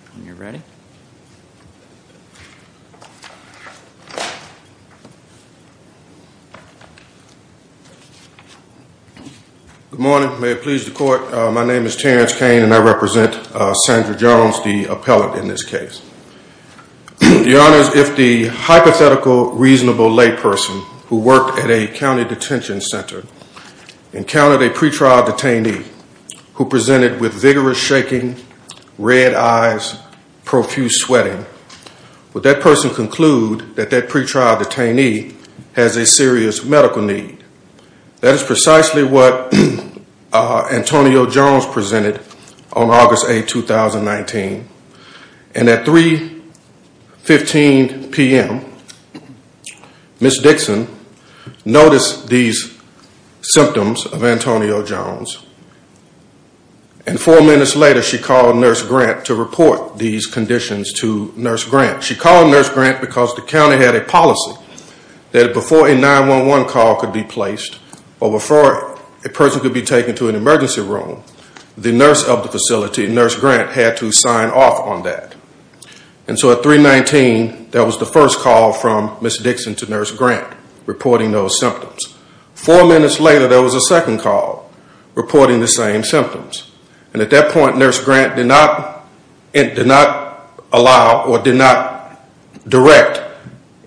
Good morning. May it please the court, my name is Terrence Kane and I represent Sandra Jones, the appellate in this case. The honors, if the hypothetical reasonable layperson who worked at a county detention center encountered a pretrial detainee who presented with vigorous shaking, red eyes, profuse sweating, would that person conclude that that pretrial detainee has a serious medical need? That is precisely what Antonio Jones presented on August 8, and four minutes later she called Nurse Grant to report these conditions to Nurse Grant. She called Nurse Grant because the county had a policy that before a 911 call could be placed or before a person could be taken to an emergency room, the nurse of the facility, Nurse Grant, had to sign off on that. And so at 319, that was the first call from Ms. reporting the same symptoms. And at that point Nurse Grant did not allow or did not direct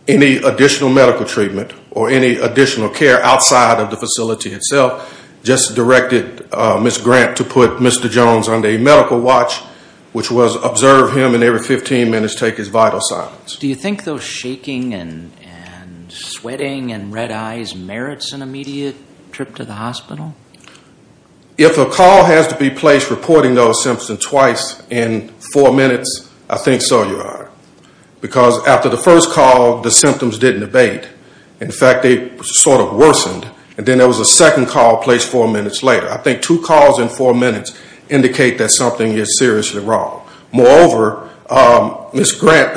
any additional medical treatment or any additional care outside of the facility itself, just directed Ms. Grant to put Mr. Jones under a medical watch, which was observe him and every 15 minutes take his vital signs. Do you think those shaking and sweating and red eyes, do you see it trip to the hospital? If a call has to be placed reporting those symptoms twice in four minutes, I think so, Your Honor. Because after the first call the symptoms didn't abate. In fact, they sort of worsened and then there was a second call placed four minutes later. I think two calls in four minutes indicate that something is seriously wrong. Moreover, Ms. Grant...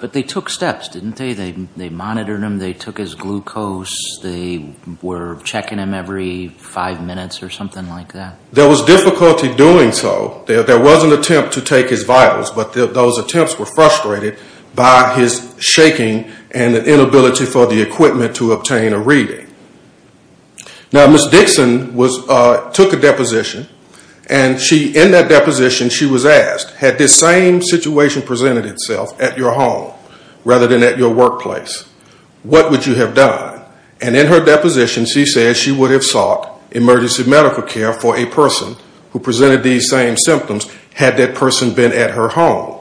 But they took steps, didn't they? They monitored him, they took his glucose, they were checking him every five minutes or something like that? There was difficulty doing so. There was an attempt to take his vitals, but those attempts were frustrated by his shaking and the inability for the equipment to obtain a reading. Now Ms. Dixon took a deposition and in that deposition she was asked, had this same situation presented itself at your home rather than at your workplace, what would you have done? And in her deposition she said she would have sought emergency medical care for a person who presented these same symptoms had that person been at her home.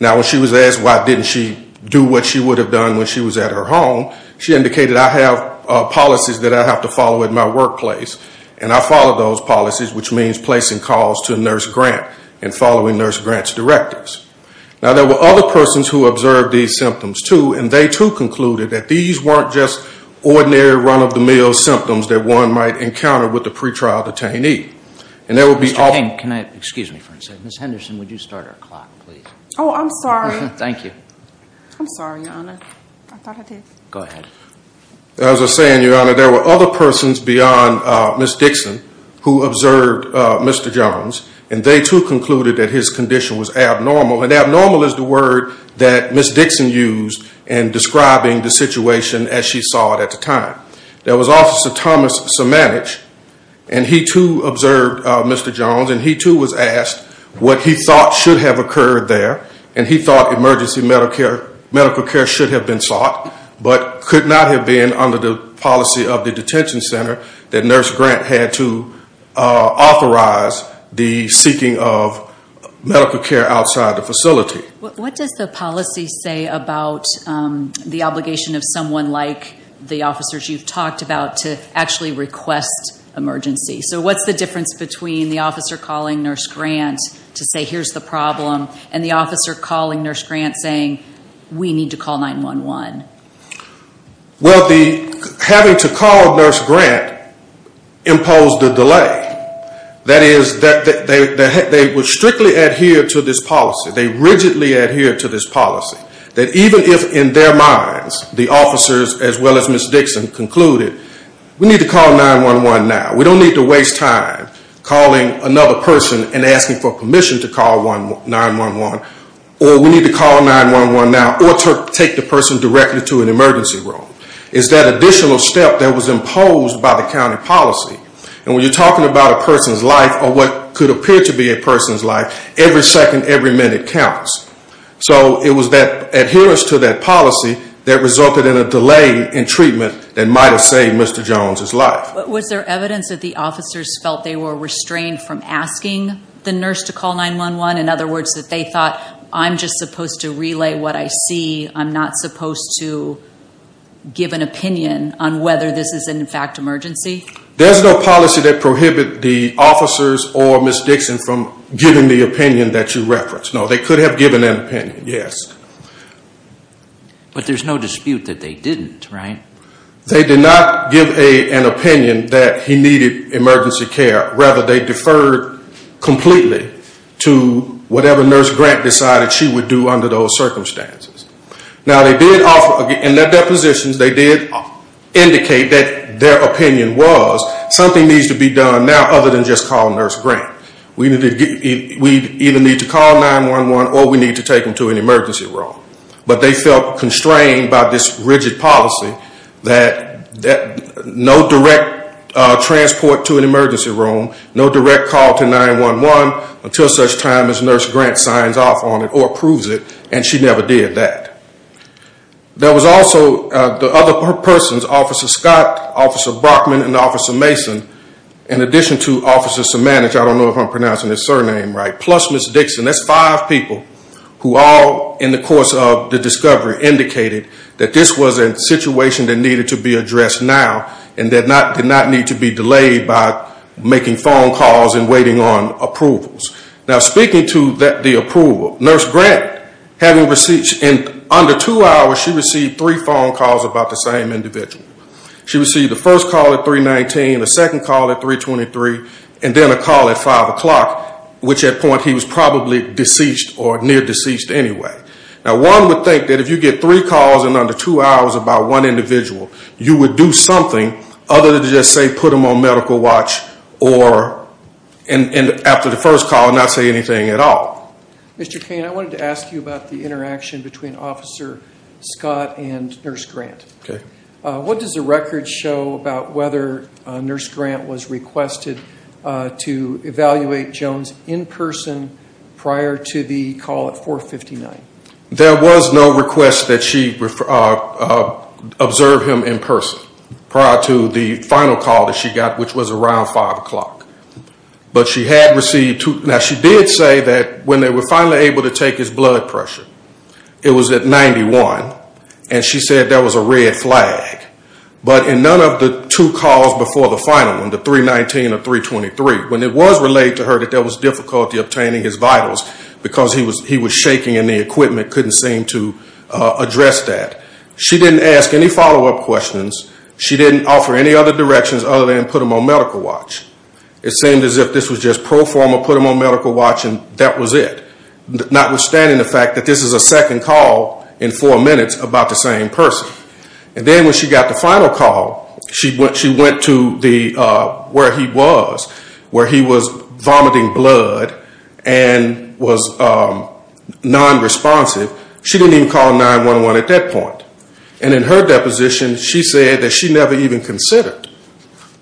Now when she was asked why didn't she do what she would have done when she was at her home, she indicated I have policies that I have to follow at my workplace and I follow those policies, which means placing calls to Nurse Grant and following Nurse Grant's directives. Now there were other persons who observed these symptoms too and they too concluded that these weren't just ordinary run-of-the-mill symptoms that one might encounter with a pre-trial detainee. And there would be... Mr. King, can I... Excuse me for a second. Ms. Henderson, would you start our clock please? Oh, I'm sorry. Thank you. I'm sorry, Your Honor. I thought I did. Go ahead. As I was saying, Your Honor, there were other persons beyond Ms. Dixon who observed Mr. Jones and they too concluded that his condition was abnormal. And abnormal is the word that Ms. Dixon used in describing the situation as she saw it at the time. There was Officer Thomas Sumanich and he too observed Mr. Jones and he too was asked what he thought should have occurred there and he thought emergency medical care should have been sought but could not have been under the policy of the detention center that Nurse Grant had to authorize the seeking of medical care outside the facility. What does the policy say about the obligation of someone like the officers you've talked about to actually request emergency? So what's the difference between the officer calling Nurse Grant to say here's the problem and the officer calling Nurse Grant saying we need to call 911? Well, having to call Nurse Grant imposed a delay. That is, they would strictly adhere to this policy. They rigidly adhere to this policy. That even if in their minds the officers as well as Ms. Dixon concluded we need to call 911 now. We don't need to waste time calling another person and asking for permission to call 911 or we need to call 911 now or ask her to take the person directly to an emergency room. It's that additional step that was imposed by the county policy and when you're talking about a person's life or what could appear to be a person's life, every second, every minute counts. So it was that adherence to that policy that resulted in a delay in treatment that might have saved Mr. Jones' life. Was there evidence that the officers felt they were restrained from asking the nurse to call 911? In other words, that they thought I'm just supposed to relay what I see. I'm not supposed to give an opinion on whether this is in fact an emergency? There's no policy that prohibits the officers or Ms. Dixon from giving the opinion that you referenced. No, they could have given an opinion, yes. But there's no dispute that they didn't, right? They did not give an opinion that he needed emergency care. Rather, they deferred completely to whatever Nurse Grant decided she would do under those circumstances. Now they did offer, in their depositions, they did indicate that their opinion was something needs to be done now other than just call Nurse Grant. We either need to call 911 or we need to take them to an emergency room. But they felt constrained by this rigid policy that no direct transport to an emergency room, no direct call to 911 until such time as Nurse Grant signs off on it or approves it. And she never did that. There was also the other persons, Officer Scott, Officer Brockman, and Officer Mason, in addition to Officer Simanich, I don't know if I'm pronouncing his surname right, plus Ms. Dixon. That's five people who all, in the course of the discovery, indicated that this was a situation that needed to be addressed now and did not need to be delayed by making phone calls and waiting on approvals. Now speaking to the approval, Nurse Grant, having received in under two hours, she received three phone calls about the same individual. She received the first call at 319, the second call at 323, and then a call at 5 o'clock, which at that point he was probably deceased or near-deceased anyway. Now one would think that if you get three calls in under two hours about one individual, you would do something other than just say put him on medical watch or, after the first call, not say anything at all. Mr. Cain, I wanted to ask you about the interaction between Officer Scott and Nurse Grant. What does the record show about whether Nurse Grant was requested to evaluate Jones in person prior to the call at 459? There was no request that she observe him in person prior to the final call that she got, which was around 5 o'clock. But she had received, now she did say that when they were able to take his blood pressure, it was at 91, and she said that was a red flag. But in none of the two calls before the final one, the 319 or 323, when it was relayed to her that there was difficulty obtaining his vitals because he was shaking and the equipment couldn't seem to address that, she didn't ask any follow-up questions. She didn't offer any other directions other than put him on medical watch. It seemed as if this was just a pro forma, put him on medical watch, and that was it. Notwithstanding the fact that this is a second call in four minutes about the same person. And then when she got the final call, she went to where he was, where he was vomiting blood and was non-responsive. She didn't even call 911 at that point. And in her deposition, she said that she never even considered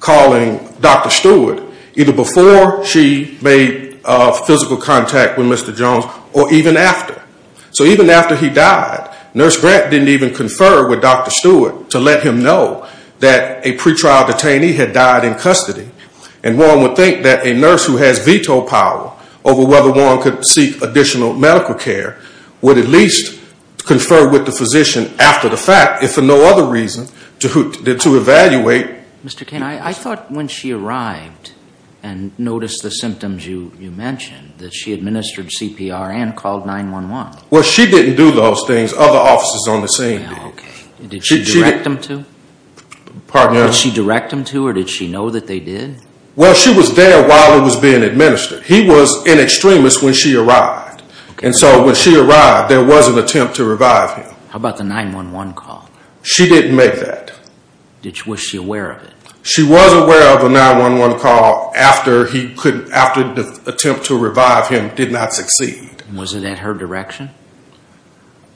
calling Dr. Stewart, either before she made physical contact with Mr. Jones or even after. So even after he died, Nurse Grant didn't even confer with Dr. Stewart to let him know that a pretrial detainee had died in custody. And one would think that a nurse who has veto power over whether one could seek additional medical care would at least confer with the physician after the fact, if for no other reason, to evaluate. Mr. Kane, I thought when she arrived and noticed the symptoms you mentioned, that she administered CPR and called 911. Well, she didn't do those things. Other officers on the scene did. Okay. Did she direct them to? Pardon me? Did she direct them to or did she know that they did? Well, she was there while he was being administered. He was an extremist when she arrived. And so when she arrived, there was an attempt to revive him. How about the 911 call? She didn't make that. Was she aware of it? She was aware of a 911 call after the attempt to revive him did not succeed. Was it at her direction?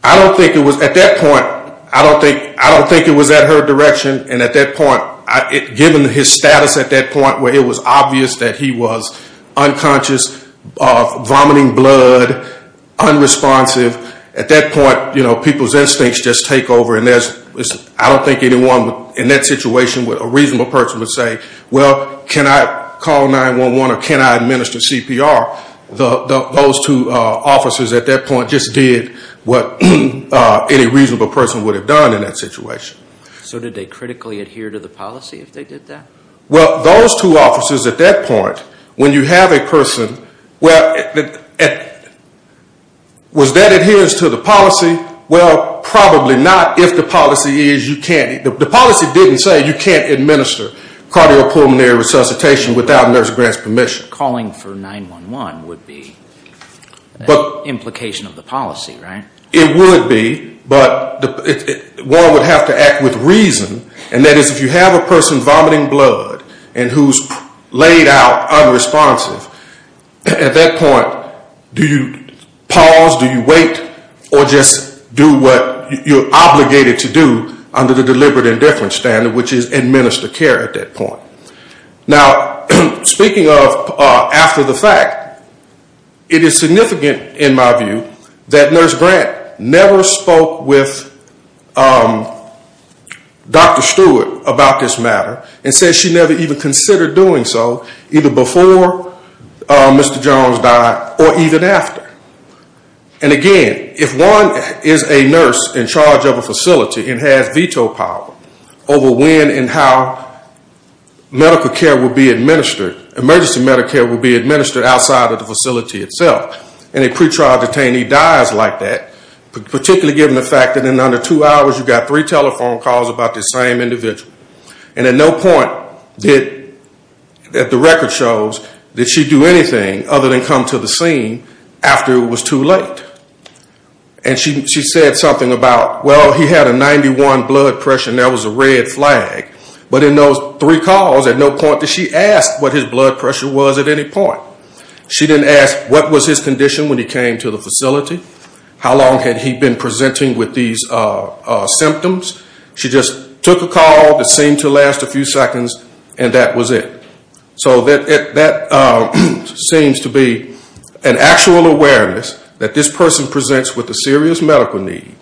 I don't think it was at that point. I don't think it was at her direction. And at that point, given his status at that point where it was obvious that he was unconscious, vomiting blood, unresponsive, at that point, people's instincts just take over. And I don't think anyone in that situation, a reasonable person, would say, well, can I call 911 or can I administer CPR? Those two officers at that point just did what any reasonable person would have done in that situation. So did they critically adhere to the policy if they did that? Well, those two officers at that point, when you have a person, well, was that adherence to the policy? Well, probably not. If the policy is, you can't. The policy didn't say you can't administer cardiopulmonary resuscitation without nurse grant's permission. Calling for 911 would be the implication of the policy, right? It would be. But one would have to act with reason. And that is if you have a person vomiting blood and who's laid out unresponsive, at that point, do you pause, do you wait, or just do what you're obligated to do under the deliberate indifference standard, which is administer care at that point. Now, speaking of after the fact, it is significant in my view that nurse grant never spoke with Dr. Stewart about this matter and said she never even considered doing so either before Mr. Jones died or even after. And again, if one is a nurse in charge of a facility and has veto power over when and how medical care will be administered, emergency medical care will be administered outside of the facility itself, and a pretrial detainee dies like that, particularly given the fact that in under two hours you've got three telephone calls about this same individual. And at no point did, the record shows, did she do anything other than come to the scene after it was too late. And she said something about, well, he had a 91 blood pressure and that was a red flag. But in those three calls, at no point did she ask what his blood pressure was at any point. She didn't ask what was his condition when he came to the facility, how long had he been presenting with these symptoms. She just took a call that seemed to last a few seconds and that was it. So that seems to be an actual awareness that this person presents with a serious medical need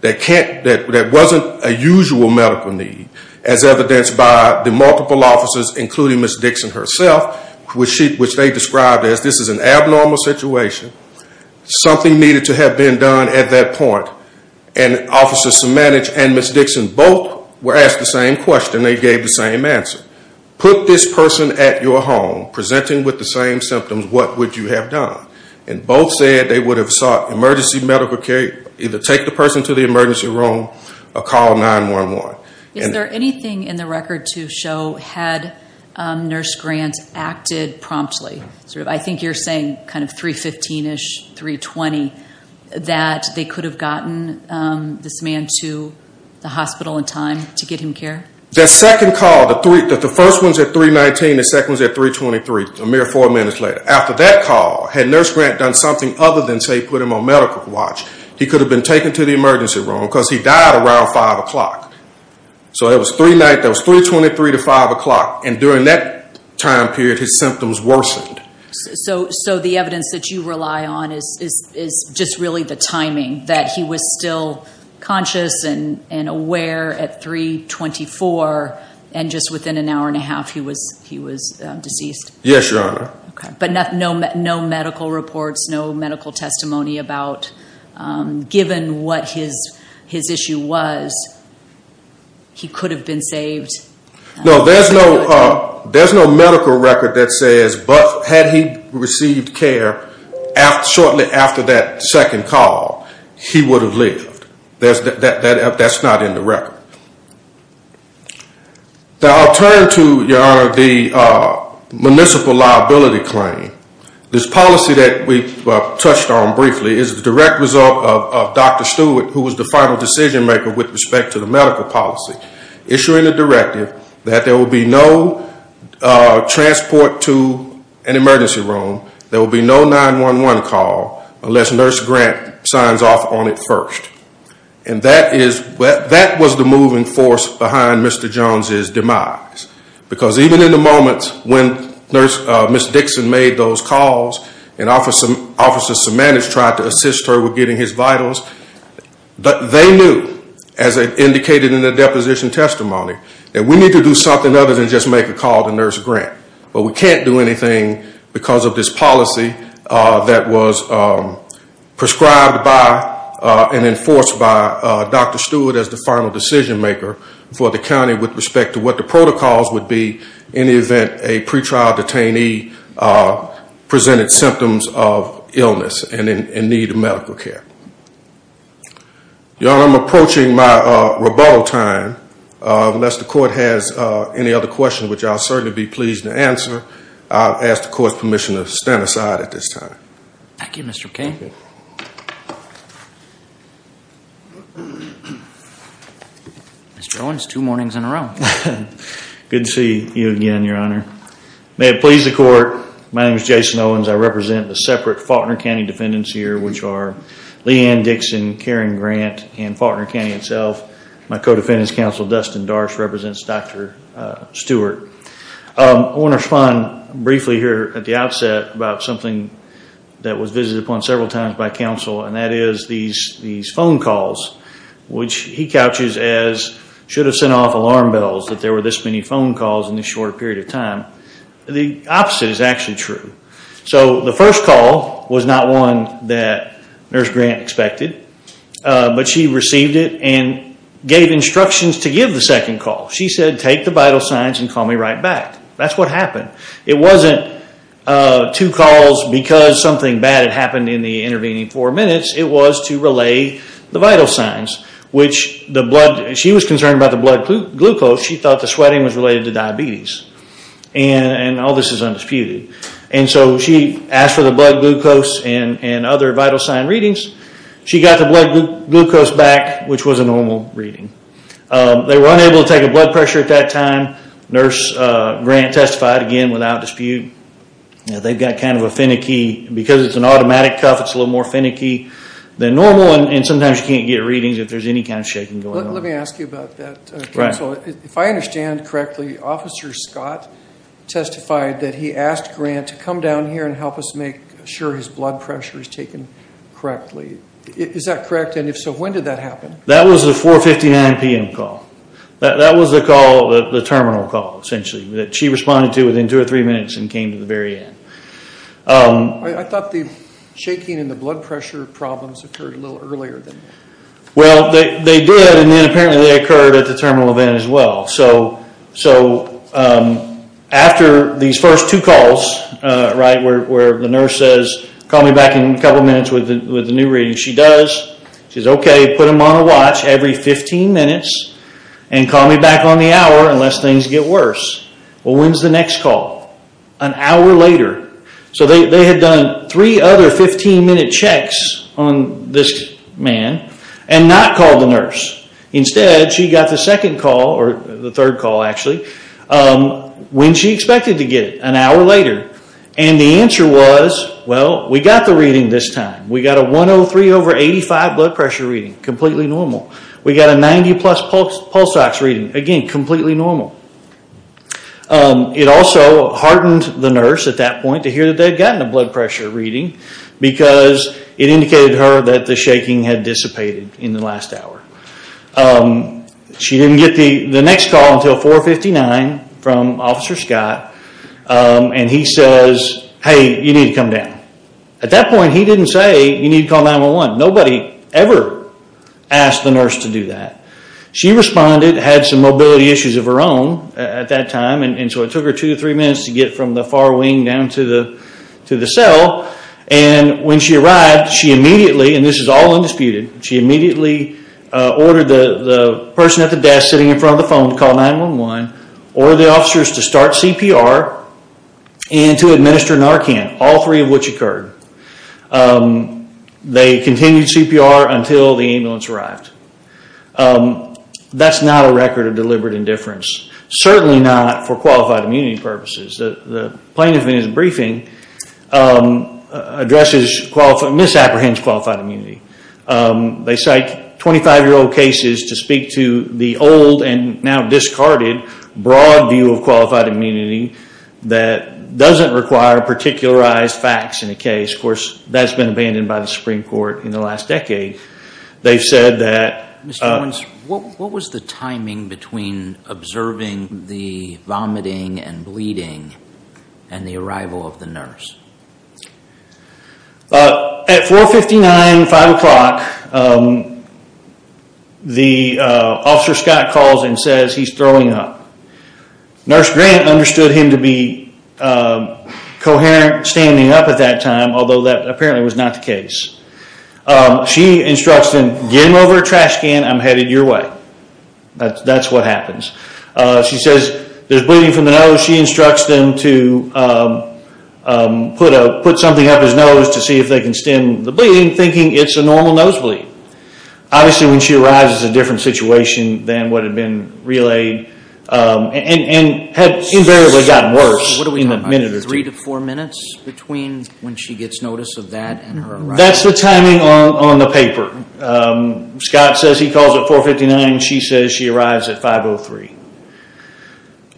that wasn't a usual medical need as evidenced by the multiple officers, including Ms. Dixon herself, which they described as this is an abnormal situation. Something needed to have been done at that point. And Officer Simanich and Ms. Dixon both were asked the same question. They gave the same answer. Put this person at your home presenting with the same symptoms, what would you have done? And both said they would have sought emergency medical care, either take the person to the emergency room or call 911. Is there anything in the record to show had Nurse Grant acted promptly? I think you're saying 315-ish, 320, that they could have gotten this man to the hospital in time to get him care? That second call, the first one's at 319, the second one's at 323, a mere four minutes later. After that call, had Nurse Grant done something other than say put him on medical watch, he could have been taken to the emergency room because he died around 5 o'clock. So it was three nights, it was 323 to 5 o'clock. And during that time period, his symptoms worsened. So the evidence that you rely on is just really the timing, that he was still conscious and aware at 324 and just within an hour and a half he was deceased? Yes, Your Honor. But no medical reports, no medical testimony about, given what his issue was, he could have been saved? No, there's no medical record that says but had he received care shortly after that second call, he would have lived. That's not in the record. Now I'll turn to, Your Honor, the municipal liability claim. This policy that we touched on briefly is the direct result of Dr. Stewart, who was the final decision maker with respect to the medical policy, issuing a directive that there will be no transport to an emergency room, there will be no 911 call unless Nurse Grant signs off on it first. And that is, that was the moving force behind Mr. Jones' demise. Because even in the moments when Nurse, Ms. Dixon made those calls and Officer Simanis tried to assist her with getting his vitals, they knew, as indicated in the deposition testimony, that we need to do something other than just make a call to Nurse Grant. But we can't do anything because of this policy that was prescribed by and enforced by Dr. Stewart as the final decision maker for the county with respect to what the protocols would be in the event a pretrial detainee presented symptoms of illness and in need of medical care. Your Honor, I'm approaching my rebuttal time. Unless the Court has any other questions, which I'll certainly be pleased to answer, I'll ask the Court's permission to stand aside at this time. Thank you, Mr. King. Mr. Owens, two mornings in a row. Good to see you again, Your Honor. May it please the Court, my name is Jason Owens. I represent the separate Faulkner County defendants here, which are Leigh Ann Dixon, Karen Grant, and Faulkner County itself. My co-defendant's counsel, Dustin Darsh, represents Dr. Stewart. I want to respond briefly here at the outset about something that was visited upon several times by counsel, and that is these phone calls, which he couches as should have sent off alarm bells that there were this many phone calls in this short period of time. The opposite is actually true. The first call was not one that Nurse Grant expected, but she received it and gave instructions to give the second call. She said, take the vital signs and call me right back. That's what happened. It wasn't two calls because something bad had happened in the intervening four minutes. It was to relay the vital signs. She was concerned about the blood glucose. She thought the sweating was related to diabetes. All this is undisputed. She asked for the blood glucose and other vital sign readings. She got the blood glucose back, which was a normal reading. They were unable to take a blood pressure at that time. Nurse Grant testified again without dispute. They've got kind of a finicky, because it's an automatic cuff, it's a little more finicky than normal, and sometimes you can't get readings if there's any kind of shaking going on. Let me ask you about that, counsel. If I understand correctly, Officer Scott testified that he asked Grant to come down here and help us make sure his blood pressure is taken correctly. Is that correct? If so, when did that happen? That was the 4.59 p.m. call. That was the call, the terminal call, essentially, that she responded to within two or three minutes and came to the very end. I thought the shaking and the blood pressure problems occurred a little earlier than that. Well, they did, and then apparently they occurred at the terminal event as well. After these first two calls, where the nurse says, call me back in a couple minutes with the new reading. She does. She says, okay, put him on a watch every 15 minutes, and call me back on the hour unless things get worse. Well, when's the next call? An hour later. They had done three other 15-minute checks on this man and not called the nurse. Instead, she got the second call, or the third call actually, when she expected to get it, an hour later. The answer was, well, we got the reading this time. We got a 103 over 85 blood pressure reading, completely normal. We got a 90 plus pulse ox reading, again, completely normal. It also hardened the nurse at that point to hear that they had gotten a blood pressure reading because it indicated to her that the shaking had dissipated in the last hour. She didn't get the next call until 459 from Officer Scott, and he says, hey, you need to come down. At that point, he didn't say, you need to call 911. Nobody ever asked the nurse to do that. She responded, had some mobility issues of her own at that time, and so it took her two or three minutes to get from the far wing down to the cell, and when she arrived, she immediately, and this is all undisputed, she immediately ordered the person at the desk sitting in front of the phone to call 911, ordered the officers to start CPR, and to administer Narcan, all three of which occurred. They continued CPR until the ambulance arrived. That's not a record of deliberate indifference, certainly not for qualified immunity purposes. The plaintiff in his briefing addresses, misapprehends qualified immunity. They cite 25-year-old cases to speak to the old and now discarded broad view of qualified immunity that doesn't require particularized facts in a case. Of course, that's been abandoned by the Supreme Court in the last decade. They've said that— Mr. Owens, what was the timing between observing the vomiting and bleeding and the arrival of the nurse? At 459, 5 o'clock, the Officer Scott calls and says he's throwing up. Nurse Grant understood him to be coherent standing up at that time, although that apparently was not the case. She instructs him, get him over a trash can, I'm headed your way. That's what happens. She says there's bleeding from the nose. She instructs them to put something up his nose to see if they can stem the bleeding, thinking it's a normal nosebleed. Obviously, when she arrives, it's a different situation than what had been relayed and had invariably gotten worse in a minute or two. What are we talking about, three to four minutes between when she gets notice of that and her arrival? That's the timing on the paper. Scott says he calls at 459. She says she arrives at 503.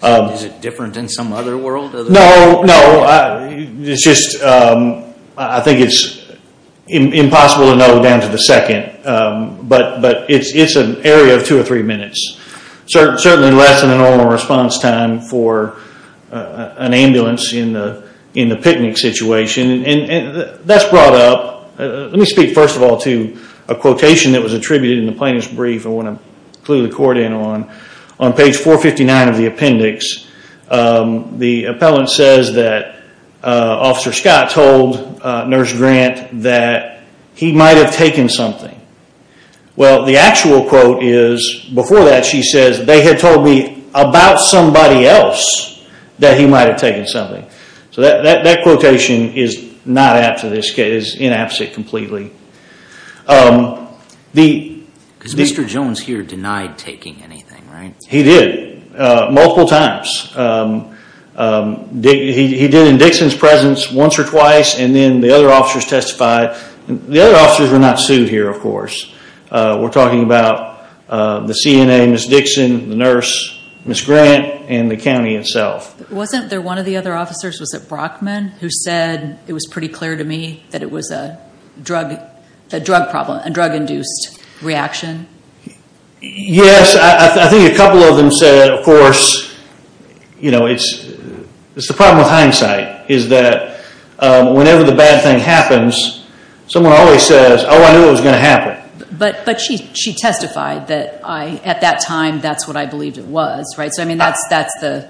Is it different than some other world? No, no. It's just, I think it's impossible to know down to the second. But it's an area of two or three minutes. Certainly less than a normal response time for an ambulance in the picnic situation. That's brought up, let me speak first of all to a quotation that was attributed in the plaintiff's brief I want to clue the court in on, on page 459 of the appendix. The appellant says that Officer Scott told Nurse Grant that he might have taken something. Well, the actual quote is, before that she says, they had told me about somebody else that he might have taken something. So that quotation is not apt to this case. It's inappropriate completely. Because Mr. Jones here denied taking anything, right? He did, multiple times. He did in Dixon's presence once or twice, and then the other officers testified. The other officers were not sued here, of course. We're talking about the CNA, Ms. Dixon, the nurse, Ms. Grant, and the county itself. Wasn't there one of the other officers, was it Brockman, who said, it was pretty clear to me that it was a drug problem, a drug-induced reaction? Yes, I think a couple of them said, of course, you know, it's the problem with hindsight, is that whenever the bad thing happens, someone always says, oh, I knew it was going to happen. But she testified that, at that time, that's what I believed it was, right? So, I mean, that's the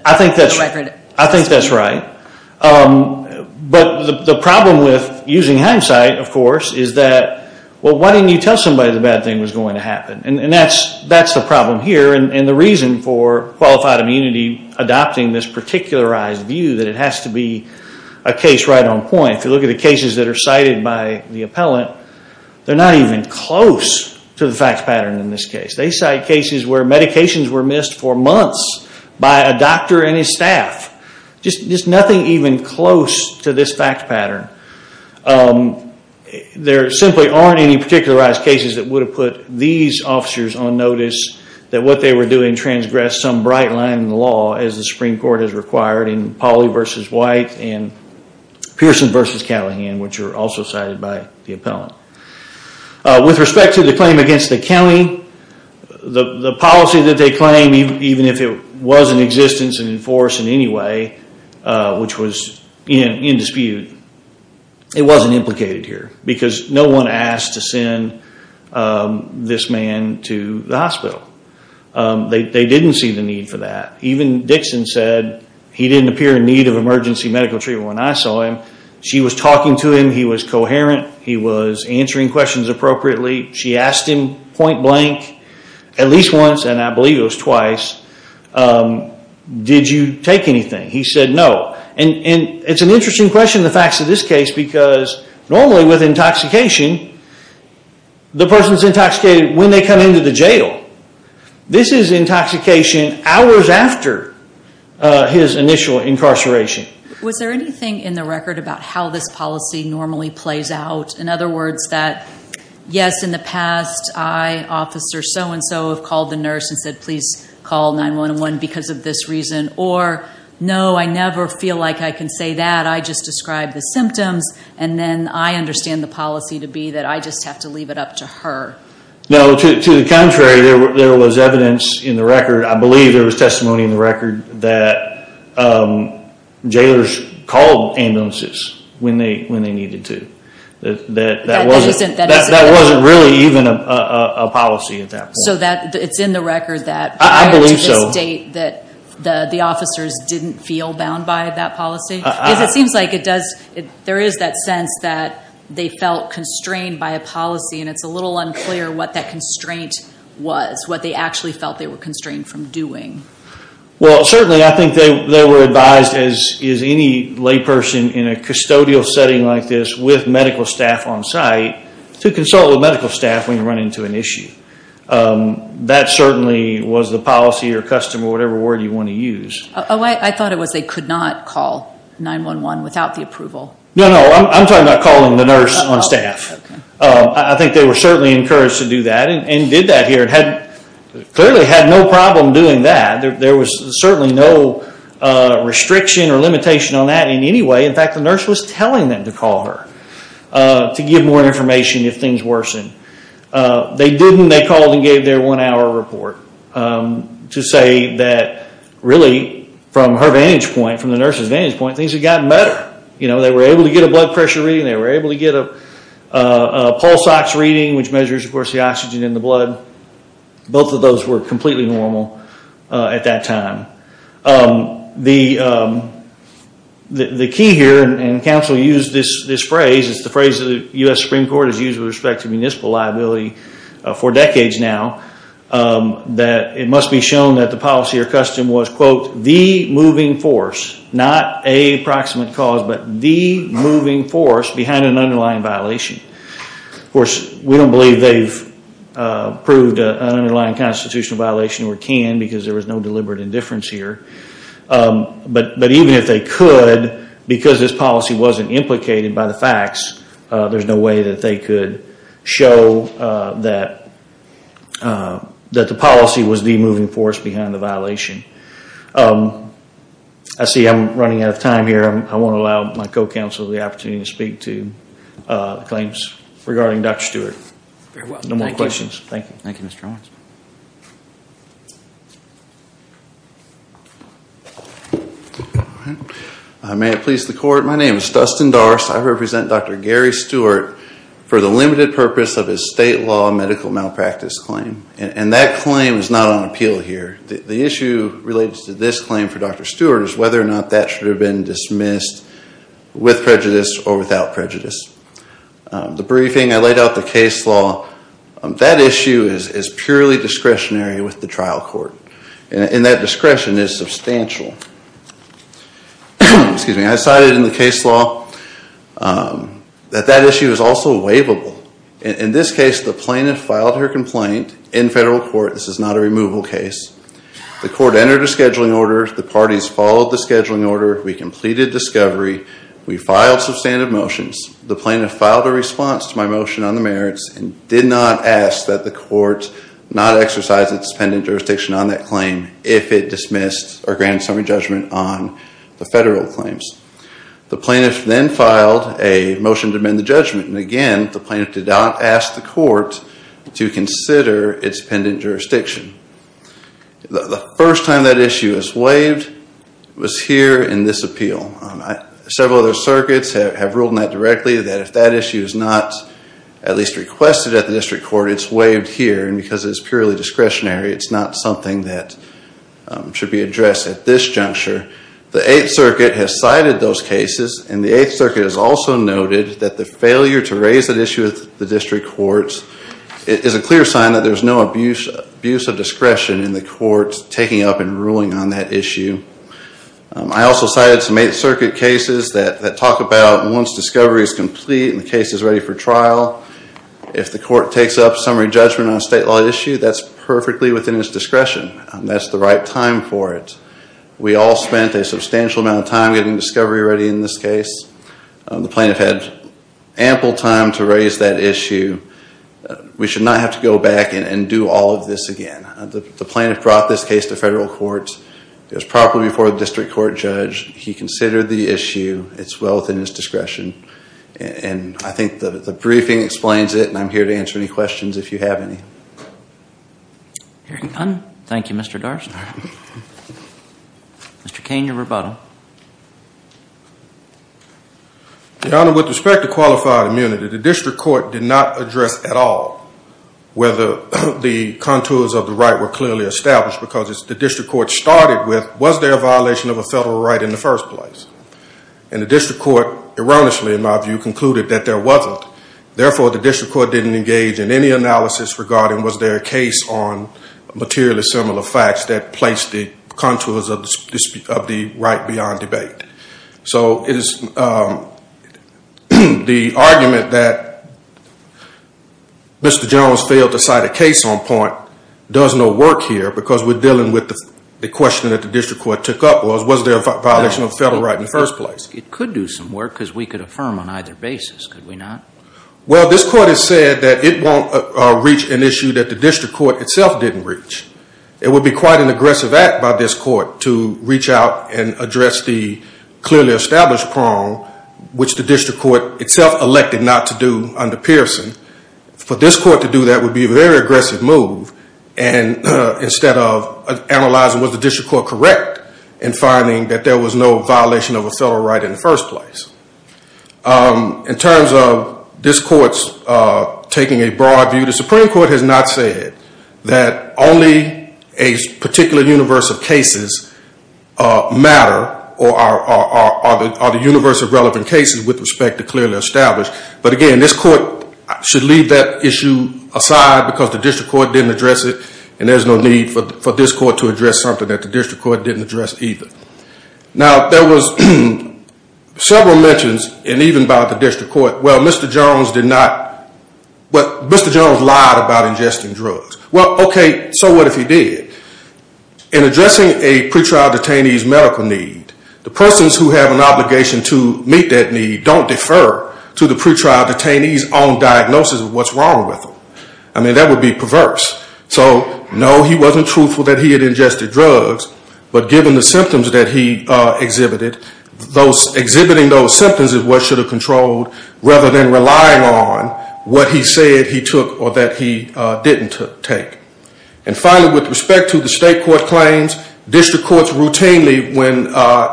record. I think that's right. But the problem with using hindsight, of course, is that, well, why didn't you tell somebody the bad thing was going to happen? And that's the problem here, and the reason for qualified immunity adopting this particularized view, that it has to be a case right on point. If you look at the cases that are cited by the appellant, they're not even close to the fact pattern in this case. They cite cases where medications were missed for months by a doctor and his staff. Just nothing even close to this fact pattern. There simply aren't any particularized cases that would have put these officers on notice that what they were doing transgressed some bright line in the law, as the Supreme Court has required in Pauley v. White and Pearson v. Callahan, which are also cited by the appellant. With respect to the claim against the county, the policy that they claim, even if it was in existence and enforced in any way, which was in dispute, it wasn't implicated here, because no one asked to send this man to the hospital. They didn't see the need for that. Even Dixon said he didn't appear in need of emergency medical treatment when I saw him. She was talking to him. He was coherent. He was answering questions appropriately. She asked him point blank at least once, and I believe it was twice, did you take anything? He said no. It's an interesting question, the facts of this case, because normally with intoxication, the person is intoxicated when they come into the jail. This is intoxication hours after his initial incarceration. Was there anything in the record about how this policy normally plays out? In other words, that yes, in the past, I, officer so-and-so, have called the nurse and said, please call 911 because of this reason, or no, I never feel like I can say that. I just describe the symptoms, and then I understand the policy to be that I just have to leave it up to her. No, to the contrary. There was evidence in the record. I believe there was testimony in the record that jailers called ambulances when they needed to. That wasn't really even a policy at that point. So it's in the record that prior to this date that the officers didn't feel bound by that policy? Because it seems like there is that sense that they felt constrained by a policy, and it's a little unclear what that constraint was, what they actually felt they were constrained from doing. Well, certainly I think they were advised, as is any layperson in a custodial setting like this, with medical staff on site to consult with medical staff when you run into an issue. That certainly was the policy or custom or whatever word you want to use. Oh, I thought it was they could not call 911 without the approval. No, no, I'm talking about calling the nurse on staff. I think they were certainly encouraged to do that and did that here. Clearly had no problem doing that. There was certainly no restriction or limitation on that in any way. In fact, the nurse was telling them to call her to give more information if things worsened. They didn't. They called and gave their one-hour report to say that really from her vantage point, from the nurse's vantage point, things had gotten better. They were able to get a blood pressure reading. They were able to get a pulse ox reading, which measures, of course, the oxygen in the blood. Both of those were completely normal at that time. The key here, and counsel used this phrase, it's the phrase that the U.S. Supreme Court has used with respect to municipal liability for decades now, that it must be shown that the policy or custom was, quote, the moving force, not a proximate cause, but the moving force behind an underlying violation. Of course, we don't believe they've proved an underlying constitutional violation or can because there was no deliberate indifference here. But even if they could, because this policy wasn't implicated by the facts, there's no way that they could show that the policy was the moving force behind the violation. I see I'm running out of time here. I won't allow my co-counsel the opportunity to speak to claims regarding Dr. Stewart. No more questions. Thank you. Thank you, Mr. Owens. May it please the court, my name is Dustin Darst. I represent Dr. Gary Stewart for the limited purpose of his state law medical malpractice claim. And that claim is not on appeal here. The issue related to this claim for Dr. Stewart is whether or not that should have been dismissed with prejudice or without prejudice. The briefing, I laid out the case law. That issue is purely discretionary with the trial court. And that discretion is substantial. I cited in the case law that that issue is also waivable. In this case, the plaintiff filed her complaint in federal court. This is not a removal case. The court entered a scheduling order. The parties followed the scheduling order. We completed discovery. We filed substantive motions. The plaintiff filed a response to my motion on the merits and did not ask that the court not exercise its pending jurisdiction on that claim if it dismissed or granted some judgment on the federal claims. The plaintiff then filed a motion to amend the judgment. And again, the plaintiff did not ask the court to consider its pending jurisdiction. The first time that issue was waived was here in this appeal. Several other circuits have ruled on that directly that if that issue is not at least requested at the district court, it's waived here. And because it's purely discretionary, it's not something that should be addressed at this juncture. The 8th Circuit has cited those cases. And the 8th Circuit has also noted that the failure to raise that issue with the district courts is a clear sign that there's no abuse of discretion in the courts taking up and ruling on that issue. I also cited some 8th Circuit cases that talk about once discovery is complete and the case is ready for trial, if the court takes up summary judgment on a state law issue, that's perfectly within its discretion. That's the right time for it. We all spent a substantial amount of time getting discovery ready in this case. The plaintiff had ample time to raise that issue. We should not have to go back and do all of this again. The plaintiff brought this case to federal courts. It was properly before the district court judge. He considered the issue. It's well within his discretion. And I think the briefing explains it, and I'm here to answer any questions if you have any. Hearing none, thank you, Mr. Darstner. Mr. Kane, your rebuttal. Your Honor, with respect to qualified immunity, the district court did not address at all whether the contours of the right were clearly established because the district court started with, was there a violation of a federal right in the first place? And the district court erroneously, in my view, concluded that there wasn't. Therefore, the district court didn't engage in any analysis regarding was there a case on materially similar facts that placed the contours of the right beyond debate. So the argument that Mr. Jones failed to cite a case on point does no work here because we're dealing with the question that the district court took up was, was there a violation of the federal right in the first place? It could do some work because we could affirm on either basis, could we not? Well, this court has said that it won't reach an issue that the district court itself didn't reach. It would be quite an aggressive act by this court to reach out and address the clearly established prong, which the district court itself elected not to do under Pearson. For this court to do that would be a very aggressive move and instead of analyzing was the district court correct in finding that there was no violation of a federal right in the first place. In terms of this court's taking a broad view, the Supreme Court has not said that only a particular universe of cases matter or are the universe of relevant cases with respect to clearly established. But again, this court should leave that issue aside because the district court didn't address it and there's no need for this court to address something that the district court didn't address either. Now, there was several mentions and even by the district court, well, Mr. Jones did not, well, Mr. Jones lied about ingesting drugs. Well, okay, so what if he did? In addressing a pretrial detainee's medical need, the persons who have an obligation to meet that need don't defer to the pretrial detainee's own diagnosis of what's wrong with them. I mean, that would be perverse. So, no, he wasn't truthful that he had ingested drugs, but given the symptoms that he exhibited, exhibiting those symptoms is what should have controlled rather than relying on what he said he took or that he didn't take. And finally, with respect to the state court claims, district courts routinely, when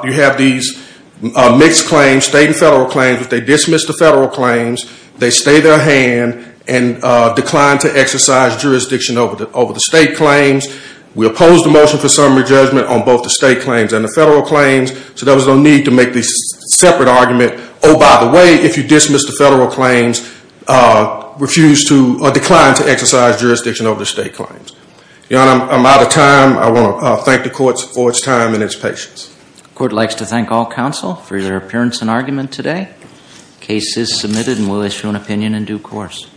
you have these mixed claims, state and federal claims, if they dismiss the federal claims, they stay their hand and decline to exercise jurisdiction over the state claims. We oppose the motion for summary judgment on both the state claims and the federal claims, so there was no need to make this separate argument, oh, by the way, if you dismiss the federal claims, decline to exercise jurisdiction over the state claims. Your Honor, I'm out of time. I want to thank the courts for its time and its patience. The court likes to thank all counsel for your appearance and argument today. The case is submitted and we'll issue an opinion in due course.